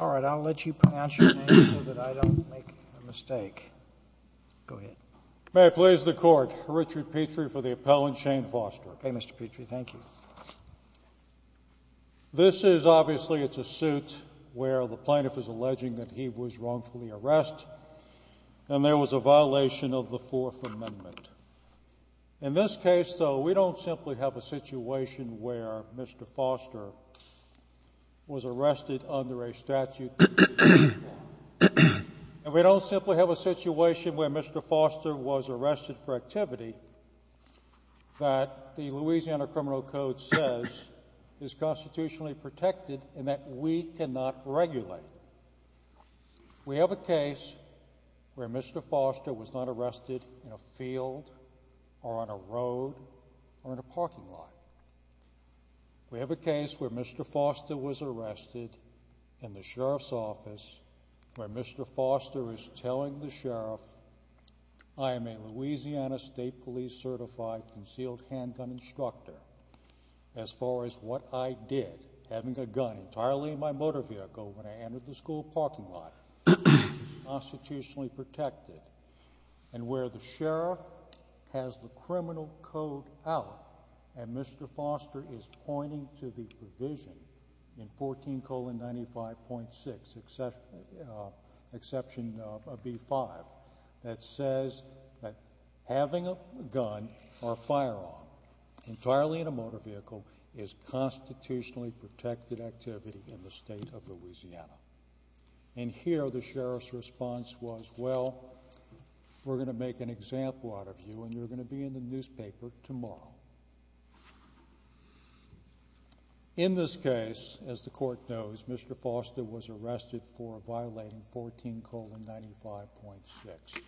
All right, I'll let you pronounce your name so that I don't make a mistake. Go ahead. May it please the Court, Richard Petrie for the appellant, Shane Foster. Okay, Mr. Petrie, thank you. This is obviously a suit where the plaintiff is alleging that he was wrongfully arrest and there was a violation of the Fourth Amendment. In this case, though, we don't simply have a situation where Mr. Foster was arrested under a statute and we don't simply have a situation where Mr. Foster was arrested for activity that the Louisiana Criminal Code says is constitutionally protected and that we cannot regulate. We have a case where Mr. Foster was not arrested in a field or on a road or in a parking lot. We have a case where Mr. Foster was arrested in the sheriff's office where Mr. Foster is telling the sheriff, I am a Louisiana State Police Certified Concealed Handgun Instructor as far as what I did, having a gun entirely in my motor vehicle when I entered the school parking lot, constitutionally protected, and where the sheriff has the criminal code out and Mr. Foster is pointing to the provision in 14 colon 95.6, exception B5, that says that having a gun or a firearm entirely in a motor vehicle is constitutionally protected activity in the state of Louisiana. And here the sheriff's response was, well, we're going to make an example out of you and you're going to be in the newspaper tomorrow. In this case, as the court knows, Mr. Foster was arrested for violating 14 colon 95.6.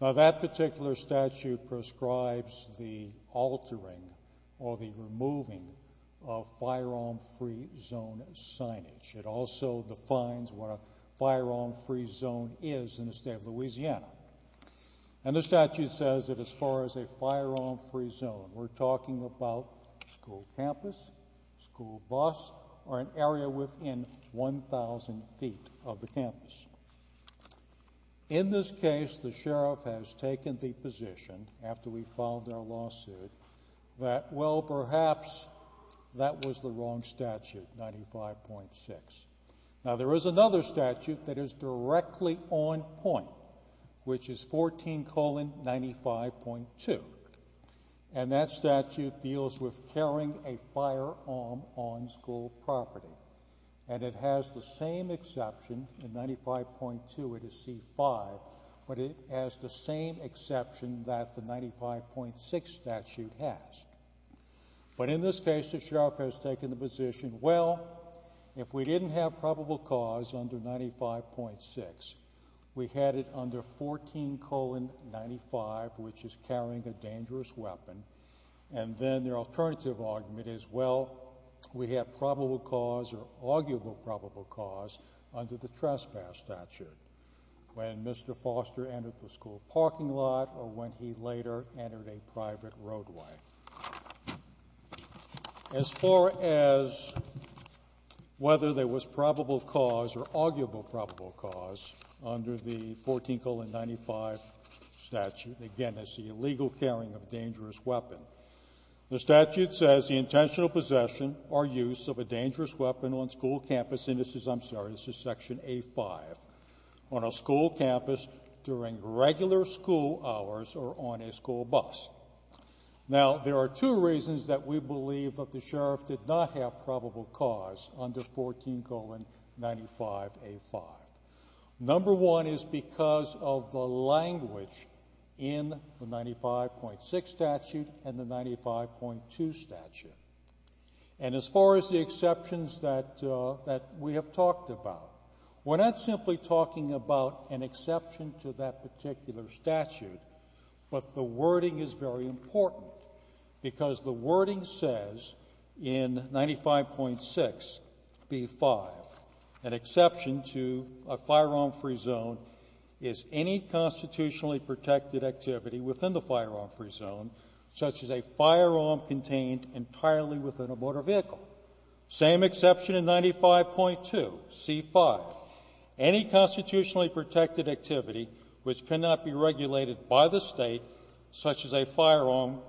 Now that particular statute prescribes the altering or the removing of firearm free zone signage. It also defines what a firearm free zone is in the state of Louisiana. And the statute says that as far as a firearm free zone, we're talking about school campus, school bus, or an area within 1,000 feet of the campus. In this case, the sheriff has taken the position, after we filed our lawsuit, that well, perhaps that was the wrong statute, 95.6. Now there is another statute that is directly on point, which is 14 colon 95.2. And that statute deals with carrying a firearm on school property. And it has the same exception, in 95.2 it is C5, but it has the same exception that the 95.6 statute has. But in this case, the sheriff has taken the position, well, if we didn't have probable cause under 95.6, we had it under 14 colon 95, which is carrying a dangerous weapon. And then their alternative argument is, well, we have probable cause or arguable probable cause under the trespass statute, when Mr. Foster entered the school parking lot or when he later entered a private roadway. As far as whether there was probable cause or arguable probable cause under the 14 colon 95 statute, again, it's the illegal carrying of a dangerous weapon. The statute says the intentional possession or use of a dangerous weapon on school campus and this is, I'm sorry, this is section A5, on a school campus during regular school hours or on a school bus. Now there are two reasons that we believe that the sheriff did not have probable cause under 14 colon 95 A5. Number one is because of the language in the 95.6 statute and the 95.2 statute. And as far as the exceptions that we have talked about, we're not simply talking about an exception to that particular statute, but the wording is very important because the wording says in 95.6B5, an exception to a firearm-free zone is any constitutionally protected activity within the firearm-free zone, such as a firearm contained entirely within a motor vehicle. Same exception in 95.2C5. Any constitutionally protected activity which cannot be regulated by the state, such as a firearm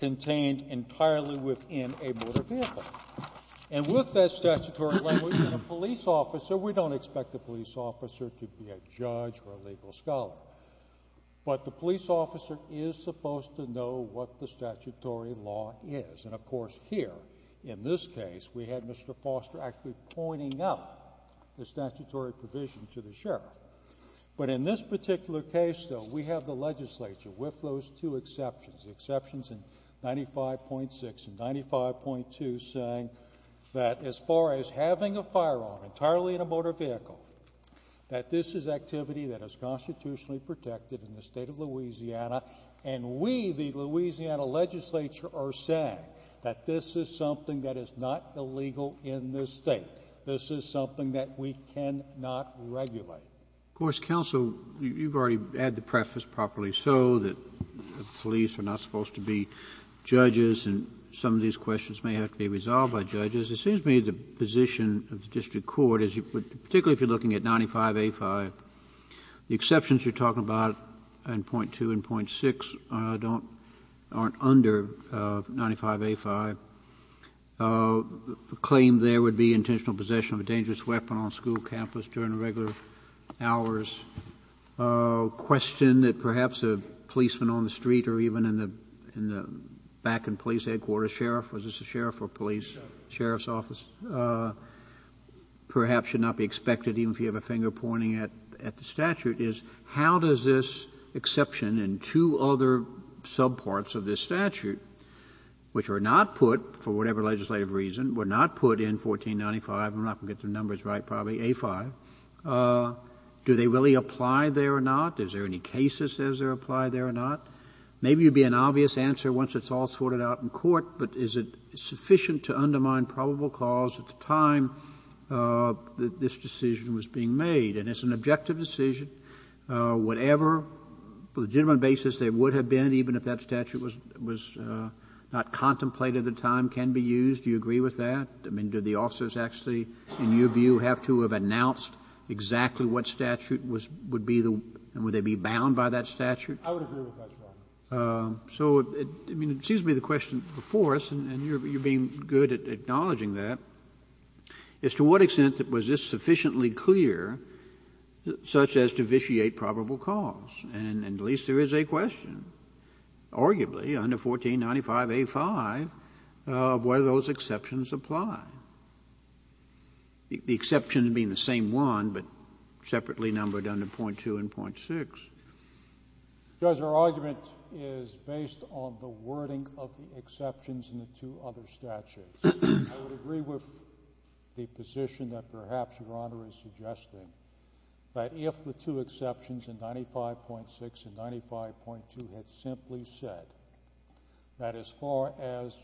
contained entirely within a motor vehicle. And with that statutory language and a police officer, we don't expect a police officer to be a judge or a legal scholar. But the police officer is supposed to know what the statutory law is. And of course here, in this case, we had Mr. Foster actually pointing out the statutory provision to the sheriff. But in this particular case, though, we have the legislature with those two exceptions, the exceptions in 95.6 and 95.2 saying that as far as having a firearm entirely in a motor vehicle, that this is activity that is constitutionally protected in the state of Louisiana. And we, the Louisiana legislature, are saying that this is something that is not illegal in this state. This is something that we cannot regulate. Of course, counsel, you've already had the preface properly so that the police are not supposed to be judges and some of these questions may have to be resolved by judges. Kennedy, it seems to me the position of the district court, particularly if you're looking at 95A5, the exceptions you're talking about in .2 and .6 aren't under 95A5. The claim there would be intentional possession of a dangerous weapon on a school campus during regular hours. A question that perhaps a policeman on the street or even in the back in the police headquarters, sheriff, was this a sheriff or police? The sheriff's office perhaps should not be expected, even if you have a finger pointing at the statute, is how does this exception in two other subparts of this statute, which were not put, for whatever legislative reason, were not put in 1495, I'm not going to get the numbers right, probably, A5, do they really apply there or not? Is there any case that says they apply there or not? Maybe it would be an obvious answer once it's all sorted out in court, but is it sufficient to undermine probable cause at the time that this decision was being made? And it's an objective decision. Whatever legitimate basis there would have been, even if that statute was not contemplated at the time, can be used. Do you agree with that? I mean, do the officers actually, in your view, have to have announced exactly what statute would be the one and would they be bound by that statute? I would agree with that, Your Honor. So, I mean, it seems to me the question before us, and you're being good at acknowledging that, is to what extent was this sufficiently clear such as to vitiate probable cause? And at least there is a question, arguably, under 1495A5, of whether those exceptions apply, the exceptions being the same one, but separately numbered under .2 and .6. Your Honor, our argument is based on the wording of the exceptions in the two other statutes. I would agree with the position that perhaps Your Honor is suggesting, that if the two exceptions in 95.6 and 95.2 had simply said that as far as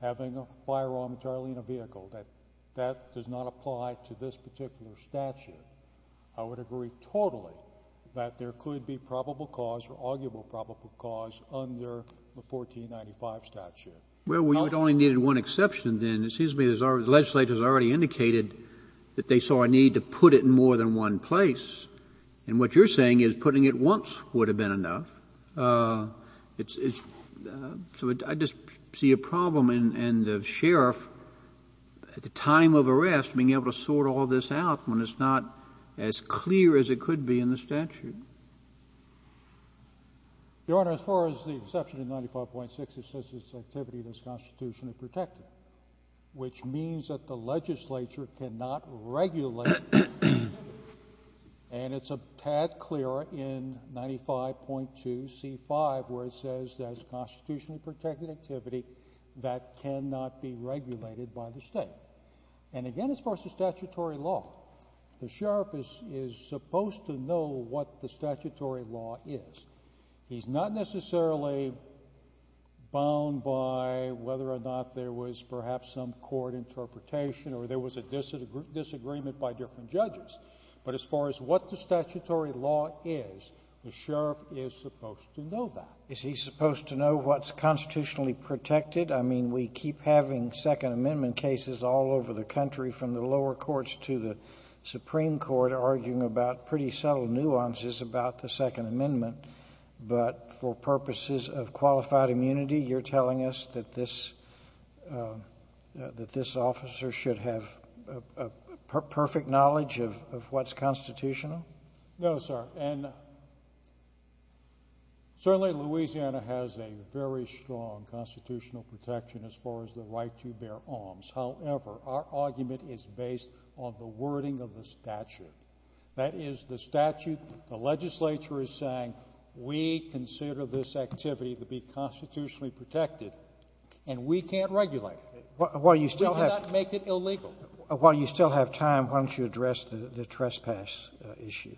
having a firearm entirely in a vehicle, that that does not apply to this particular statute, I would agree totally that there could be probable cause or arguable probable cause under the 1495 statute. Well, we only needed one exception then. It seems to me the legislature has already indicated that they saw a need to put it in more than one place, and what you're saying is putting it once would have been enough. So I just see a problem in the sheriff, at the time of arrest, being able to sort all this out when it's not as clear as it could be in the statute. Your Honor, as far as the exception in 95.6, it says it's activity that's constitutionally protected, which means that the legislature cannot regulate it. And it's a tad clearer in 95.2C5, where it says that it's constitutionally protected activity that cannot be regulated by the state. And again, as far as the statutory law, the sheriff is supposed to know what the statutory law is. He's not necessarily bound by whether or not there was perhaps some court interpretation or there was a disagreement by different judges. But as far as what the statutory law is, the sheriff is supposed to know that. Is he supposed to know what's constitutionally protected? I mean, we keep having Second Amendment cases all over the country, from the lower courts to the Supreme Court, arguing about pretty subtle nuances about the Second Amendment. But for purposes of qualified immunity, you're telling us that this officer should have perfect knowledge of what's constitutional? No, sir. And certainly, Louisiana has a very strong constitutional protection as far as the right to bear arms. However, our argument is based on the wording of the statute. That is, the statute, the legislature is saying, we consider this activity to be constitutionally protected, and we can't regulate it. While you still have — We cannot make it illegal. While you still have time, why don't you address the trespass issue?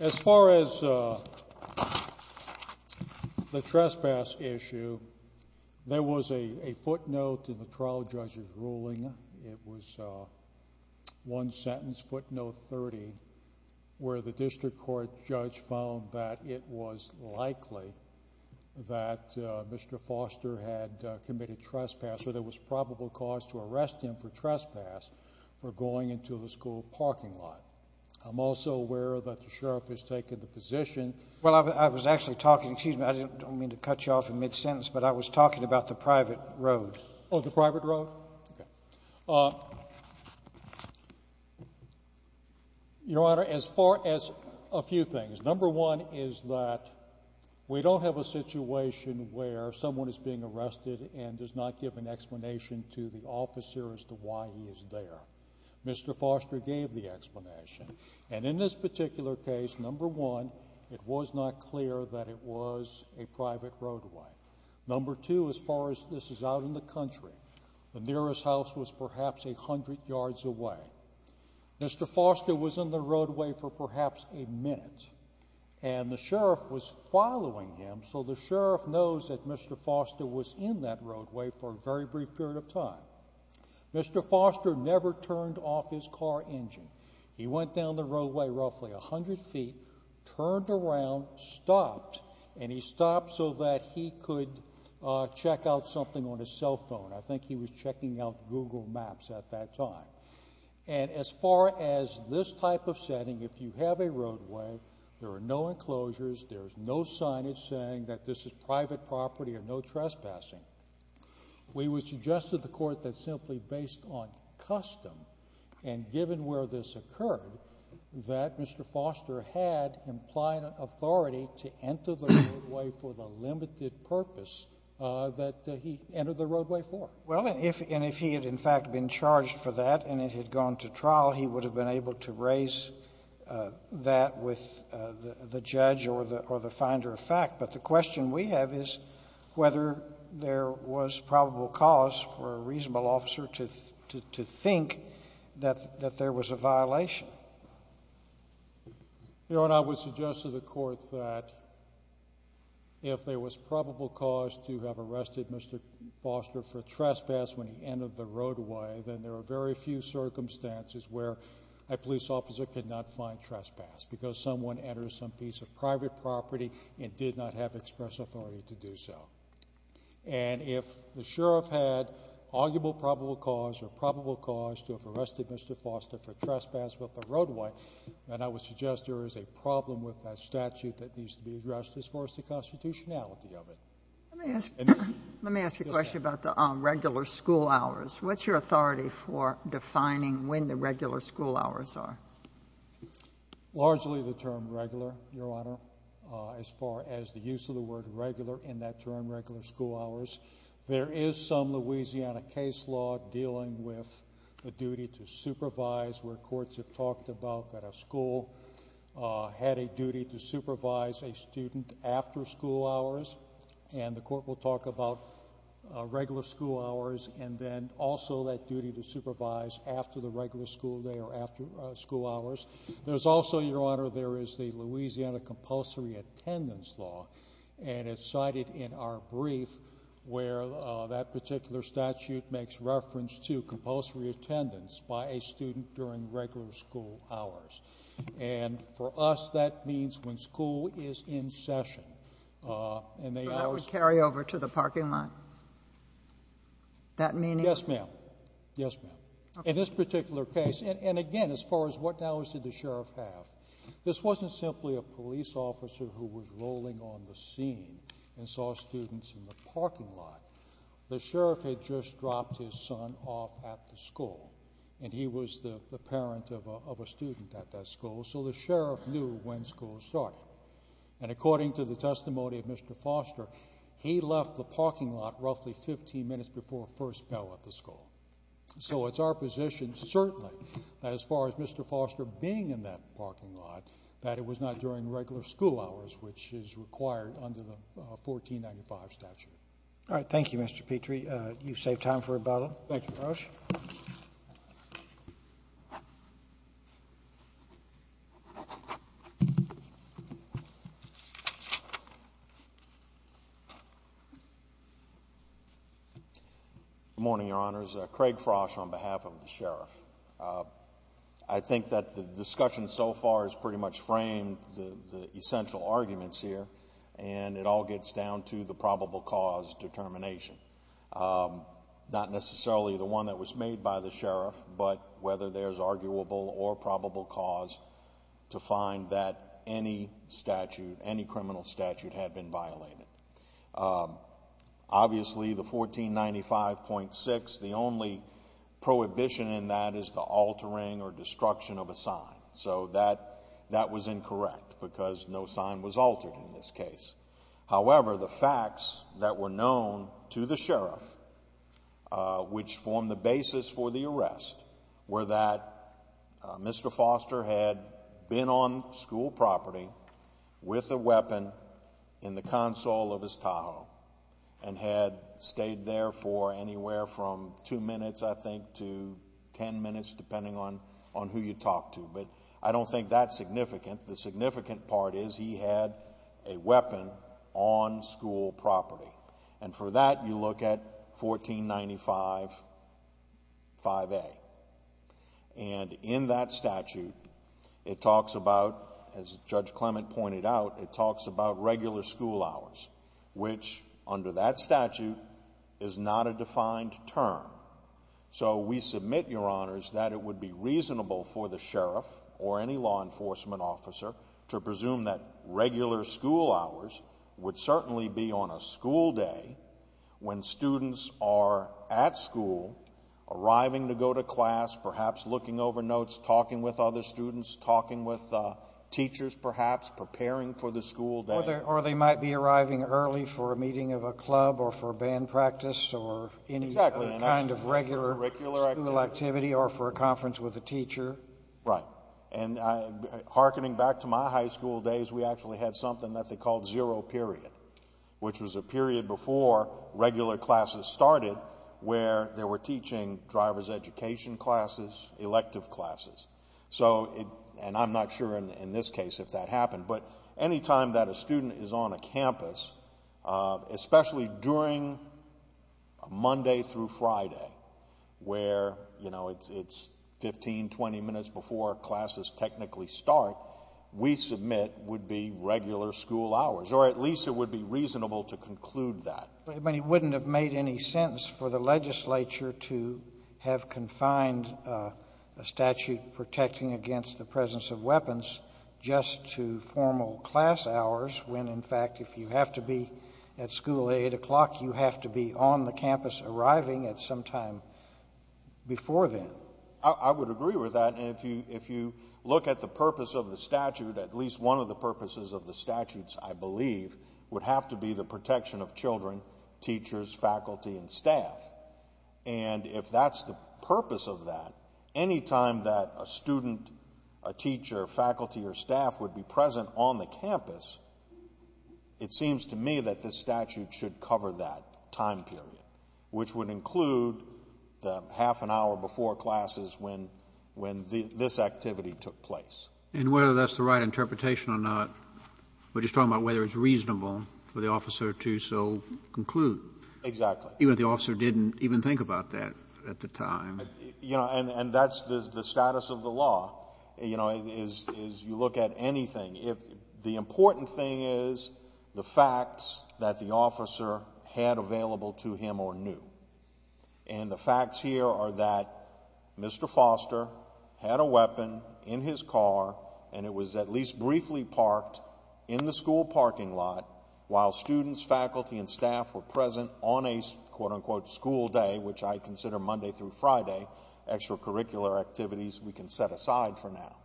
As far as the trespass issue, there was a footnote in the trial judge's ruling. It was one sentence, footnote 30, where the district court judge found that it was likely that Mr. Foster had committed trespass, or there was probable cause to arrest him for trespass for going into the school parking lot. I'm also aware that the sheriff has taken the position — Well, I was actually talking — excuse me, I don't mean to cut you off in mid-sentence, but I was talking about the private road. Oh, the private road? Okay. Your Honor, as far as — a few things. Number one is that we don't have a situation where someone is being arrested and does not give an explanation to the officer as to why he is there. Mr. Foster gave the explanation. And in this particular case, number one, it was not clear that it was a private roadway. Number two, as far as this is out in the country, the nearest house was perhaps 100 yards away. Mr. Foster was in the roadway for perhaps a minute, and the sheriff was following him, so the sheriff knows that Mr. Foster was in that roadway for a very brief period of time. Mr. Foster never turned off his car engine. He went down the roadway roughly 100 feet, turned around, stopped, and he stopped so that he could check out something on his cell phone. I think he was checking out Google Maps at that time. And as far as this type of setting, if you have a roadway, there are no enclosures, there is no signage saying that this is private property or no trespassing. We would suggest to the court that simply based on custom, and given where this occurred, that Mr. Foster had implied authority to enter the roadway for the limited purpose that he entered the roadway for. Well, and if he had, in fact, been charged for that and it had gone to trial, he would have been able to raise that with the judge or the finder of fact. But the question we have is whether there was probable cause for a reasonable officer to think that there was a violation. Your Honor, I would suggest to the court that if there was probable cause to have arrested Mr. Foster for trespass when he entered the roadway, then there are very few circumstances where a police officer could not find trespass because someone entered some piece of private property and did not have express authority to do so. And if the sheriff had arguable probable cause or probable cause to have arrested Mr. Foster for trespass with the roadway, then I would suggest there is a problem with that statute that needs to be addressed as far as the constitutionality of it. Let me ask you a question about the regular school hours. What's your authority for defining when the regular school hours are? Largely, the term regular, Your Honor, as far as the use of the word regular in that term, regular school hours, there is some Louisiana case law dealing with the duty to supervise where courts have talked about that a school had a duty to supervise a student after school hours, and the court will talk about regular school hours, and then also that duty to supervise after the regular school day or after school hours. There's also, Your Honor, there is the Louisiana compulsory attendance law, and it's cited in our brief where that particular statute makes reference to compulsory attendance by a student during regular school hours. And for us, that means when school is in session, and they always So that would carry over to the parking lot? That meaning Yes, ma'am. Yes, ma'am. In this particular case, and again, as far as what hours did the sheriff have, this wasn't simply a police officer who was rolling on the scene and saw students in the parking lot. The sheriff had just dropped his son off at the school, and he was the parent of a student at that school, so the sheriff knew when school started. And according to the testimony of Mr. Foster, he left the parking lot roughly 15 minutes before first bell at the school. So it's our position, certainly, as far as Mr. Foster being in that parking lot, that it was not during regular school hours, which is required under the 1495 statute. All right. Thank you, Mr. Petrie. You've saved time for rebuttal. Thank you, Your Honor. Good morning, Your Honors. My name is Craig Frosh on behalf of the sheriff. I think that the discussion so far has pretty much framed the essential arguments here, and it all gets down to the probable cause determination. Not necessarily the one that was made by the sheriff, but whether there's arguable or probable cause to find that any statute, any criminal statute, had been violated. Obviously, the 1495.6, the only prohibition in that is the altering or destruction of a sign. So that was incorrect, because no sign was altered in this case. However, the facts that were known to the sheriff, which formed the basis for the arrest, were that Mr. Foster had been on school property with a weapon in the console of his Tahoe and had stayed there for anywhere from two minutes, I think, to ten minutes, depending on who you talk to. But I don't think that's significant. The significant part is he had a weapon on school property. And for that, you look at 1495.5A. And in that statute, it talks about, as Judge Clement pointed out, it talks about regular school hours, which under that statute is not a defined term. So we submit, Your Honors, that it would be reasonable for the sheriff or any law enforcement officer to presume that regular school hours would certainly be on a school day when students are at school, arriving to go to class, perhaps looking over notes, talking with other students, talking with teachers, perhaps, preparing for the school day. Or they might be arriving early for a meeting of a club or for band practice or any kind of regular school activity or for a conference with a teacher. Right. And hearkening back to my high school days, we actually had something that they called zero period, which was a period before regular classes started where they were teaching driver's education classes, elective classes. So it, and I'm not sure in this case if that happened, but any time that a student is on a campus, especially during Monday through Friday, where, you know, it's 15, 20 minutes before classes technically start, we submit would be regular school hours, or at least it would be reasonable to conclude that. But it wouldn't have made any sense for the legislature to have confined a statute protecting against the presence of weapons just to formal class hours when, in fact, if you have to be at school at 8 o'clock, you have to be on the campus arriving at some time before then. I would agree with that, and if you look at the purpose of the statute, at least one of the purposes of the statutes, I believe, would have to be the protection of children, teachers, faculty, and staff. And if that's the purpose of that, any time that a student, a teacher, faculty, or staff would be present on the campus, it seems to me that this statute should cover that time period, which would include the half an hour before classes when this activity took place. And whether that's the right interpretation or not, we're just talking about whether it's reasonable for the officer to so conclude. Exactly. Even if the officer didn't even think about that at the time. You know, and that's the status of the law, you know, is you look at anything. The important thing is the facts that the officer had available to him or knew. And the facts here are that Mr. Foster had a weapon in his car, and it was at least briefly parked in the school parking lot while students, faculty, and staff were present on a, quote unquote, school day, which I consider Monday through Friday, extracurricular activities we can set aside for now.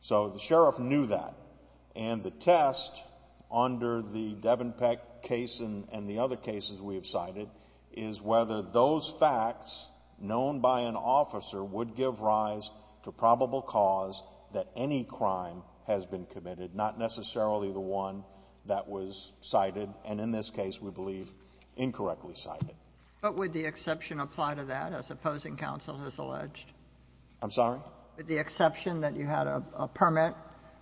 So the sheriff knew that. And the test under the Devenpeck case and the other cases we have cited is whether those facts known by an officer would give rise to probable cause that any crime has been committed, not necessarily the one that was cited, and in this case, we believe, incorrectly cited. But would the exception apply to that, as opposing counsel has alleged? I'm sorry? Would the exception that you had a permit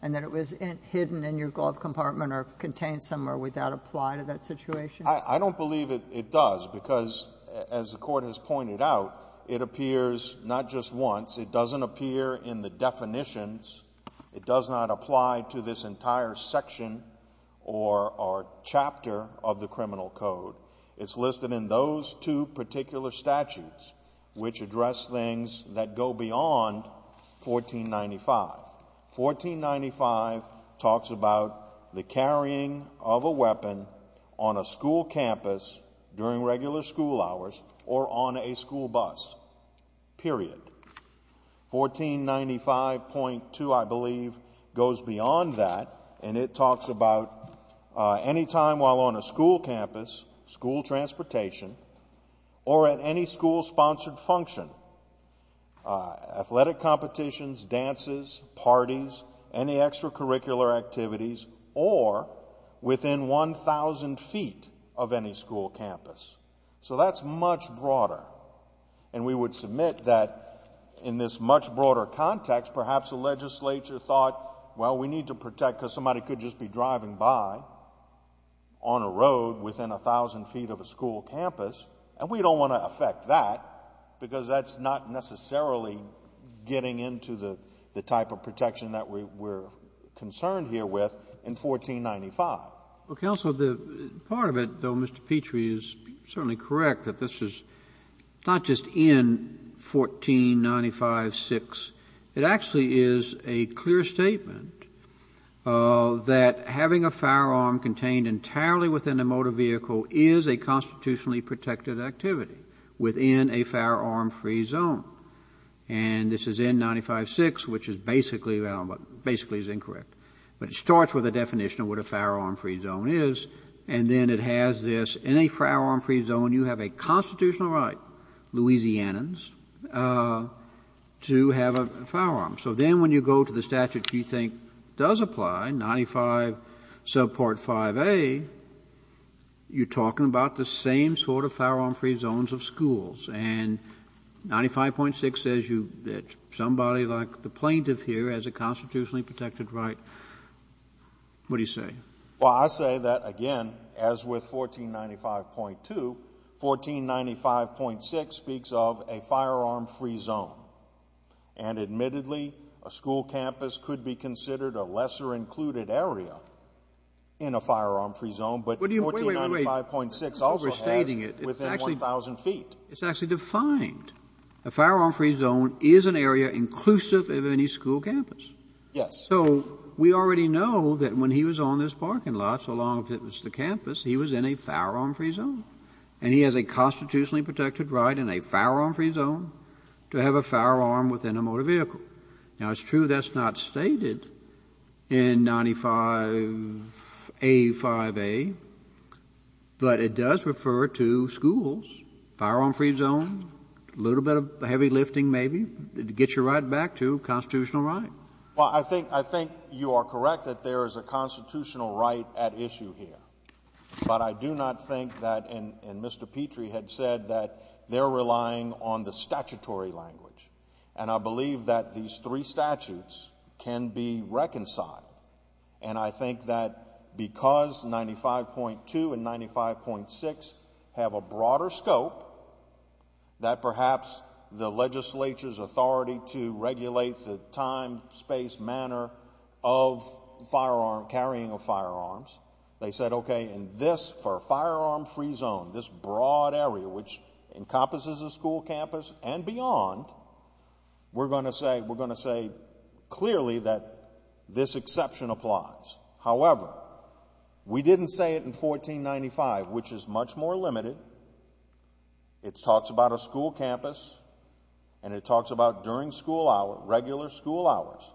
and that it was hidden in your glove compartment or contained somewhere, would that apply to that situation? I don't believe it does, because as the Court has pointed out, it appears not just once. It doesn't appear in the definitions. It does not apply to this entire section or chapter of the criminal code. It's listed in those two particular statutes, which address things that go beyond 1495. 1495 talks about the carrying of a weapon on a school campus during regular school hours or on a school bus, period. 1495.2, I believe, goes beyond that, and it talks about any time while on a school campus, school transportation, or at any school-sponsored function, athletic competitions, dances, parties, any extracurricular activities, or within 1,000 feet of any school campus. So that's much broader, and we would submit that in this much broader context, perhaps a legislature thought, well, we need to protect, because somebody could just be driving by on a road within 1,000 feet of a school campus, and we don't want to affect that, because that's not necessarily getting into the type of protection that we're concerned here with in 1495. Well, Counsel, the part of it, though, Mr. Petrie is certainly correct that this is not just in 1495.6. It actually is a clear statement that having a firearm contained entirely within a motor vehicle is a constitutionally protected activity within a firearm-free zone, and this is N95.6, which is basically, well, basically is incorrect, but it starts with a definition of what a firearm-free zone is, and then it has this, in a firearm-free zone, you have a constitutional right, Louisianans, to have a firearm. So then when you go to the statute you think does apply, 95 subpart 5A, you're talking about the same sort of firearm-free zones of schools, and 95.6 says you, that somebody like the plaintiff here has a constitutionally protected right, what do you say? Well, I say that, again, as with 1495.2, 1495.6 speaks of a firearm-free zone, and admittedly a school campus could be considered a lesser included area in a firearm-free zone, but 1495.6 also has within 1,000 feet. It's actually defined. A firearm-free zone is an area inclusive of any school campus. Yes. So we already know that when he was on this parking lot, so long as it was the campus, he was in a firearm-free zone. And he has a constitutionally protected right in a firearm-free zone to have a firearm within a motor vehicle. Now, it's true that's not stated in 95A, 5A, but it does refer to schools, firearm-free zone, a little bit of heavy lifting, maybe, to get you right back to constitutional right. Well, I think you are correct that there is a constitutional right at issue here, but I do not think that, and Mr. Petrie had said that they're relying on the statutory language. And I believe that these three statutes can be reconciled. And I think that because 95.2 and 95.6 have a broader scope, that perhaps the legislature's time, space, manner of carrying of firearms, they said, okay, in this, for a firearm-free zone, this broad area which encompasses a school campus and beyond, we're going to say clearly that this exception applies. However, we didn't say it in 1495, which is much more limited. It talks about a school campus and it talks about during school hours, regular school hours,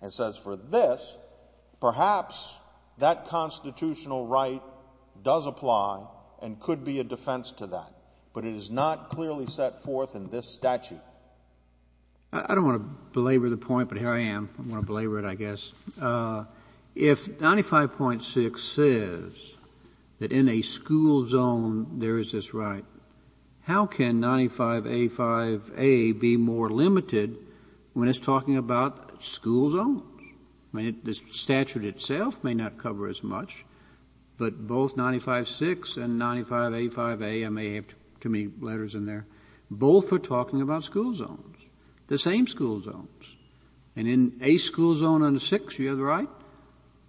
and says for this, perhaps that constitutional right does apply and could be a defense to that, but it is not clearly set forth in this statute. I don't want to belabor the point, but here I am, I'm going to belabor it, I guess. If 95.6 says that in a school zone there is this right, how can 95A5A be more limited when it's talking about school zones? I mean, the statute itself may not cover as much, but both 95.6 and 95A5A, I may have too many letters in there, both are talking about school zones, the same school zones. And in a school zone under 6, you have the right,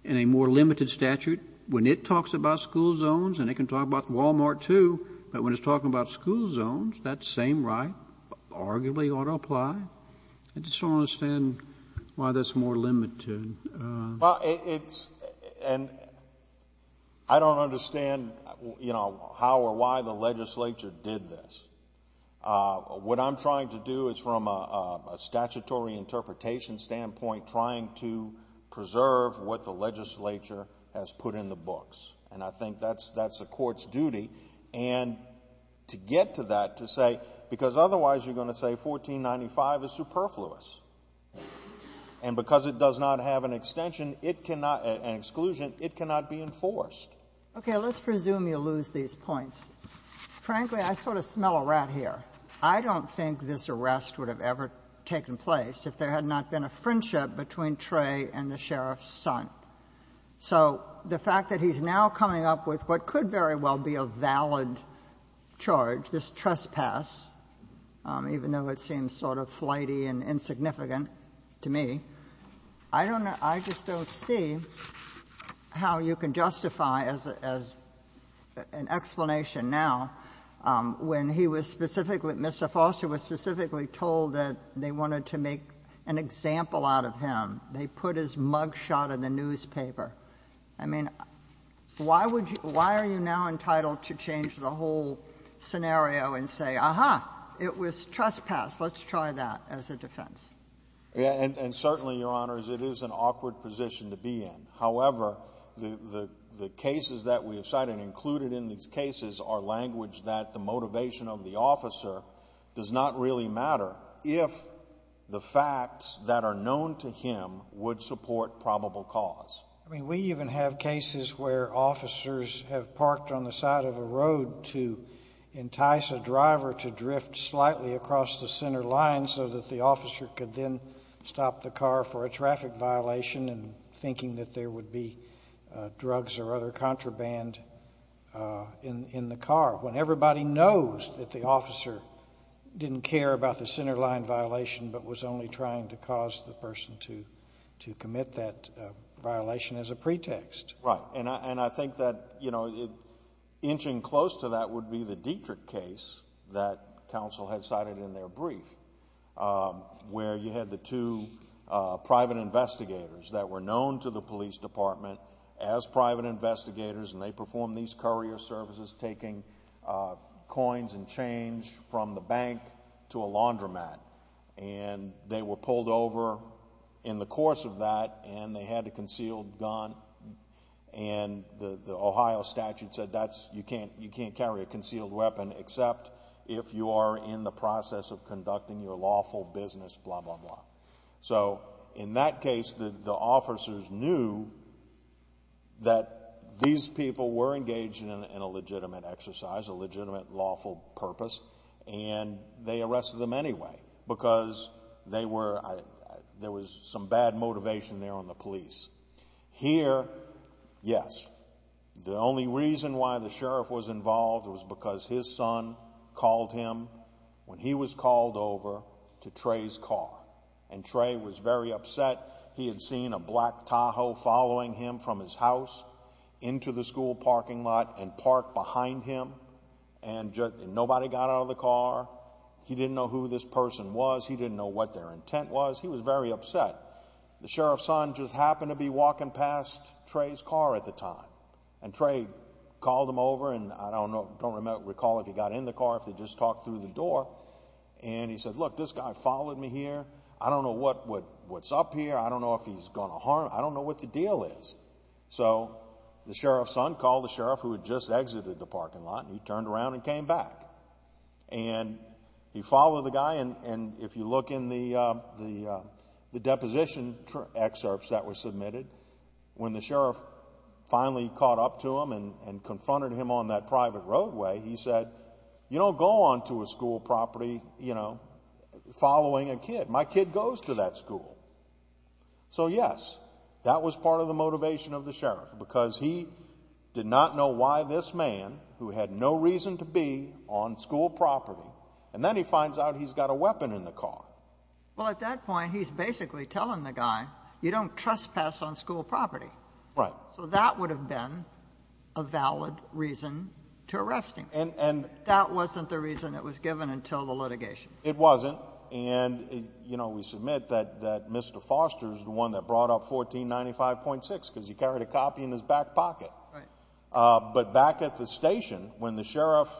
in a more limited statute, when it talks about school zones, and it can talk about Wal-Mart, too, but when it's talking about school zones, that same right arguably ought to apply. I just don't understand why that's more limited. Well, it's, and I don't understand, you know, how or why the legislature did this. What I'm trying to do is, from a statutory interpretation standpoint, trying to preserve what the legislature has put in the books, and I think that's the Court's duty. And to get to that, to say, because otherwise you're going to say 1495 is superfluous, and because it does not have an extension, it cannot, an exclusion, it cannot be enforced. Okay. Let's presume you lose these points. Frankly, I sort of smell a rat here. I don't think this arrest would have ever taken place if there had not been a friendship between Trey and the sheriff's son. So the fact that he's now coming up with what could very well be a valid charge, this trespass, even though it seems sort of flighty and insignificant to me, I don't I just don't see how you can justify, as an explanation now, when he was specifically Mr. Foster was specifically told that they wanted to make an example out of him. They put his mug shot in the newspaper. I mean, why would you, why are you now entitled to change the whole scenario and say, aha, it was trespass, let's try that as a defense? And certainly, Your Honors, it is an awkward position to be in. However, the cases that we have cited included in these cases are language that the motivation of the officer does not really matter if the facts that are known to him would support probable cause. I mean, we even have cases where officers have parked on the side of a road to entice a driver to drift slightly across the center line so that the officer could then stop the car for a traffic violation and thinking that there would be drugs or other contraband in the car when everybody knows that the officer didn't care about the center line violation but was only trying to cause the person to commit that violation as a pretext. Right. And I think that, you know, inching close to that would be the Dietrich case that counsel had cited in their brief where you had the two private investigators that were known to the police department as private investigators and they performed these courier services taking coins and change from the bank to a laundromat. And they were pulled over in the course of that and they had a concealed gun and the Ohio statute said that's, you can't carry a concealed weapon except if you are in the process of conducting your lawful business, blah, blah, blah. So in that case, the officers knew that these people were engaged in a legitimate exercise, a legitimate lawful purpose, and they arrested them anyway because they were, there was some bad motivation there on the police. Here, yes, the only reason why the sheriff was involved was because his son called him when he was called over to Trey's car. And Trey was very upset. He had seen a black Tahoe following him from his house into the school parking lot and nobody got out of the car. He didn't know who this person was. He didn't know what their intent was. He was very upset. The sheriff's son just happened to be walking past Trey's car at the time and Trey called him over and I don't know, I don't recall if he got in the car, if they just talked through the door and he said, look, this guy followed me here. I don't know what's up here. I don't know if he's going to harm, I don't know what the deal is. So the sheriff's son called the sheriff who had just exited the parking lot and he turned around and came back and he followed the guy and if you look in the deposition excerpts that were submitted, when the sheriff finally caught up to him and confronted him on that private roadway, he said, you don't go onto a school property, you know, following a kid. My kid goes to that school. So, yes, that was part of the motivation of the sheriff because he did not know why this man, who had no reason to be on school property, and then he finds out he's got a weapon in the car. Well, at that point, he's basically telling the guy, you don't trespass on school property. Right. So that would have been a valid reason to arrest him. And that wasn't the reason it was given until the litigation. It wasn't. And, you know, we submit that Mr. Foster is the one that brought up 1495.6 because he carried a copy in his back pocket. But back at the station, when the sheriff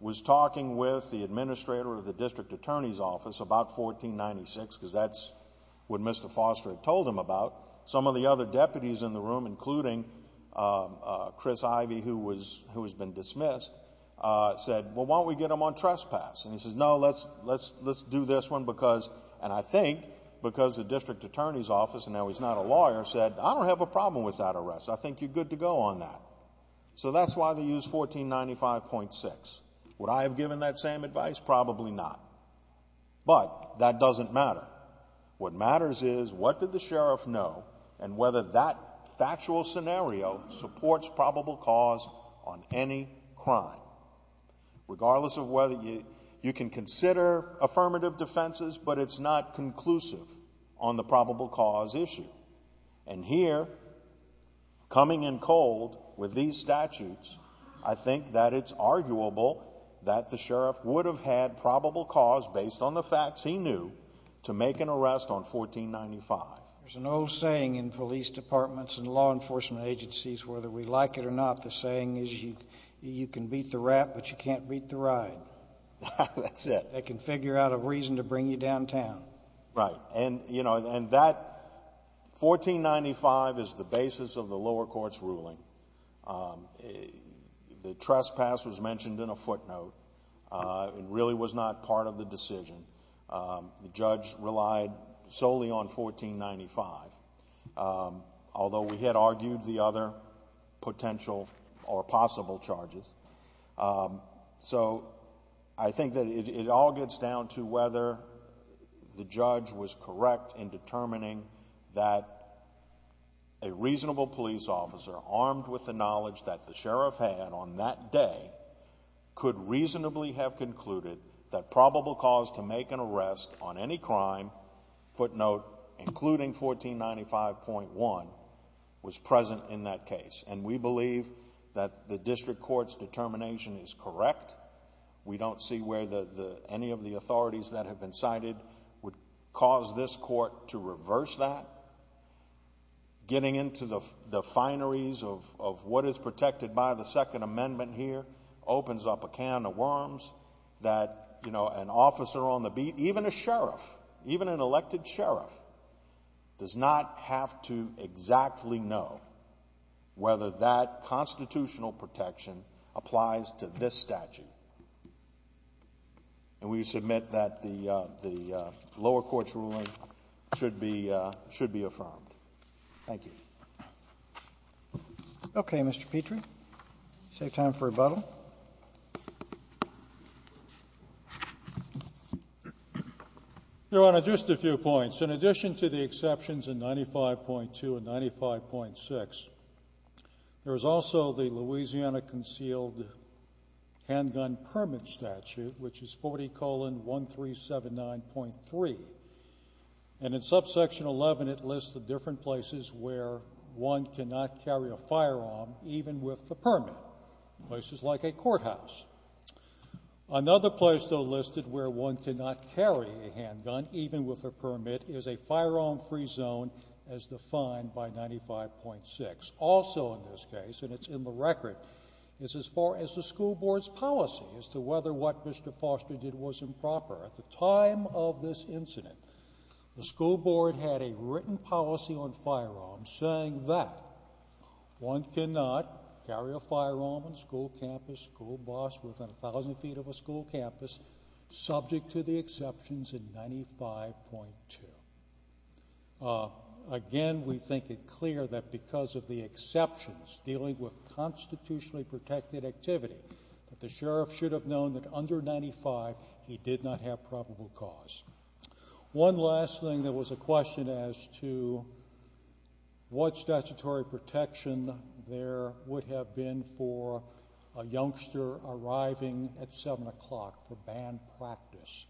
was talking with the administrator of the district attorney's office about 1496, because that's what Mr. Foster had told him about, some of the other deputies in the room, including Chris Ivey, who has been dismissed, said, well, why don't we get him on trespass? And he says, no, let's do this one because, and I think because the district attorney's office, and now he's not a lawyer, said, I don't have a problem with that arrest. I think you're good to go on that. So that's why they used 1495.6. Would I have given that same advice? Probably not. But that doesn't matter. What matters is, what did the sheriff know, and whether that factual scenario supports probable cause on any crime. Regardless of whether you can consider affirmative defenses, but it's not conclusive on the probable cause issue. And here, coming in cold with these statutes, I think that it's arguable that the sheriff would have had probable cause based on the facts he knew to make an arrest on 1495. There's an old saying in police departments and law enforcement agencies, whether we like it or not, the saying is, you can beat the rap, but you can't beat the ride. That's it. They can figure out a reason to bring you downtown. Right. And, you know, and that, 1495 is the basis of the lower court's ruling. The trespass was mentioned in a footnote and really was not part of the decision. The judge relied solely on 1495. Although, we had argued the other potential or possible charges. So I think that it all gets down to whether the judge was correct in determining that a reasonable police officer, armed with the knowledge that the sheriff had on that day, could reasonably have concluded that probable cause to make an arrest on any crime, footnote, including 1495.1, was present in that case. And we believe that the district court's determination is correct. We don't see where any of the authorities that have been cited would cause this court to reverse that. Getting into the fineries of what is protected by the Second Amendment here opens up a can of worms that, you know, an officer on the beat, even a sheriff, even an elected sheriff, does not have to exactly know whether that constitutional protection applies to this statute. And we submit that the lower court's ruling should be affirmed. Thank you. Okay. Mr. Petrie. Save time for rebuttal. Your Honor, just a few points. In addition to the exceptions in 95.2 and 95.6, there is also the Louisiana Concealed Handgun Permit statute, which is 40 colon 1379.3. And in subsection 11, it lists the different places where one cannot carry a firearm, even with the permit, places like a courthouse. Another place, though, listed where one cannot carry a handgun, even with a permit, is a firearm-free zone as defined by 95.6. Also in this case, and it's in the record, is as far as the school board's policy as to whether what Mr. Foster did was improper. At the time of this incident, the school board had a written policy on firearms saying that one cannot carry a firearm on school campus, school bus, within 1,000 feet of a school campus, subject to the exceptions in 95.2. Again, we think it clear that because of the exceptions dealing with constitutionally protected activity that the sheriff should have known that under 95, he did not have probable cause. One last thing that was a question as to what statutory protection there would have been for a youngster arriving at 7 o'clock for banned practice.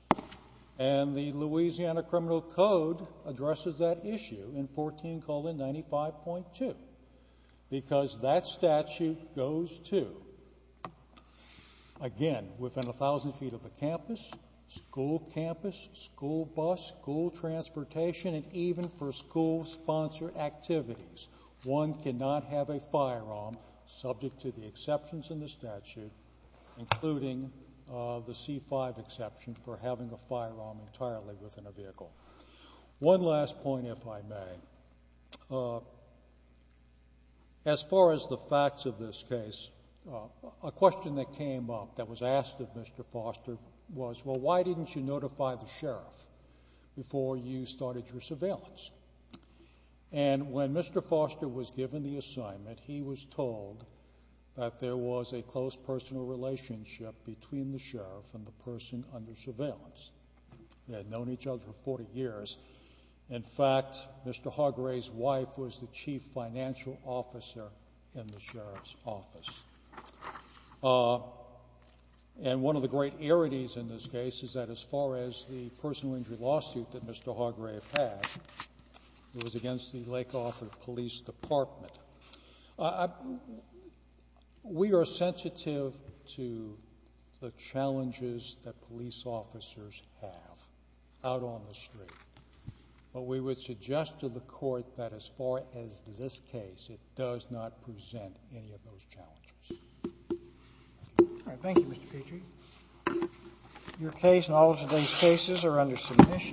And the Louisiana Criminal Code addresses that issue in 14 colon 95.2 because that statute goes to, again, within 1,000 feet of the campus, school campus, school bus, school transportation, and even for school-sponsored activities. One cannot have a firearm subject to the exceptions in the statute, including the C-5 exception for having a firearm entirely within a vehicle. One last point, if I may. As far as the facts of this case, a question that came up that was asked of Mr. Foster was, well, why didn't you notify the sheriff before you started your surveillance? And when Mr. Foster was given the assignment, he was told that there was a close personal They had known each other for 40 years. In fact, Mr. Hargrave's wife was the chief financial officer in the sheriff's office. And one of the great arities in this case is that as far as the personal injury lawsuit that Mr. Hargrave had, it was against the Lake Arthur Police Department. We are sensitive to the challenges that police officers have out on the street. But we would suggest to the court that as far as this case, it does not present any of those challenges. All right. Thank you, Mr. Petrie. Your case and all of today's cases are under submission.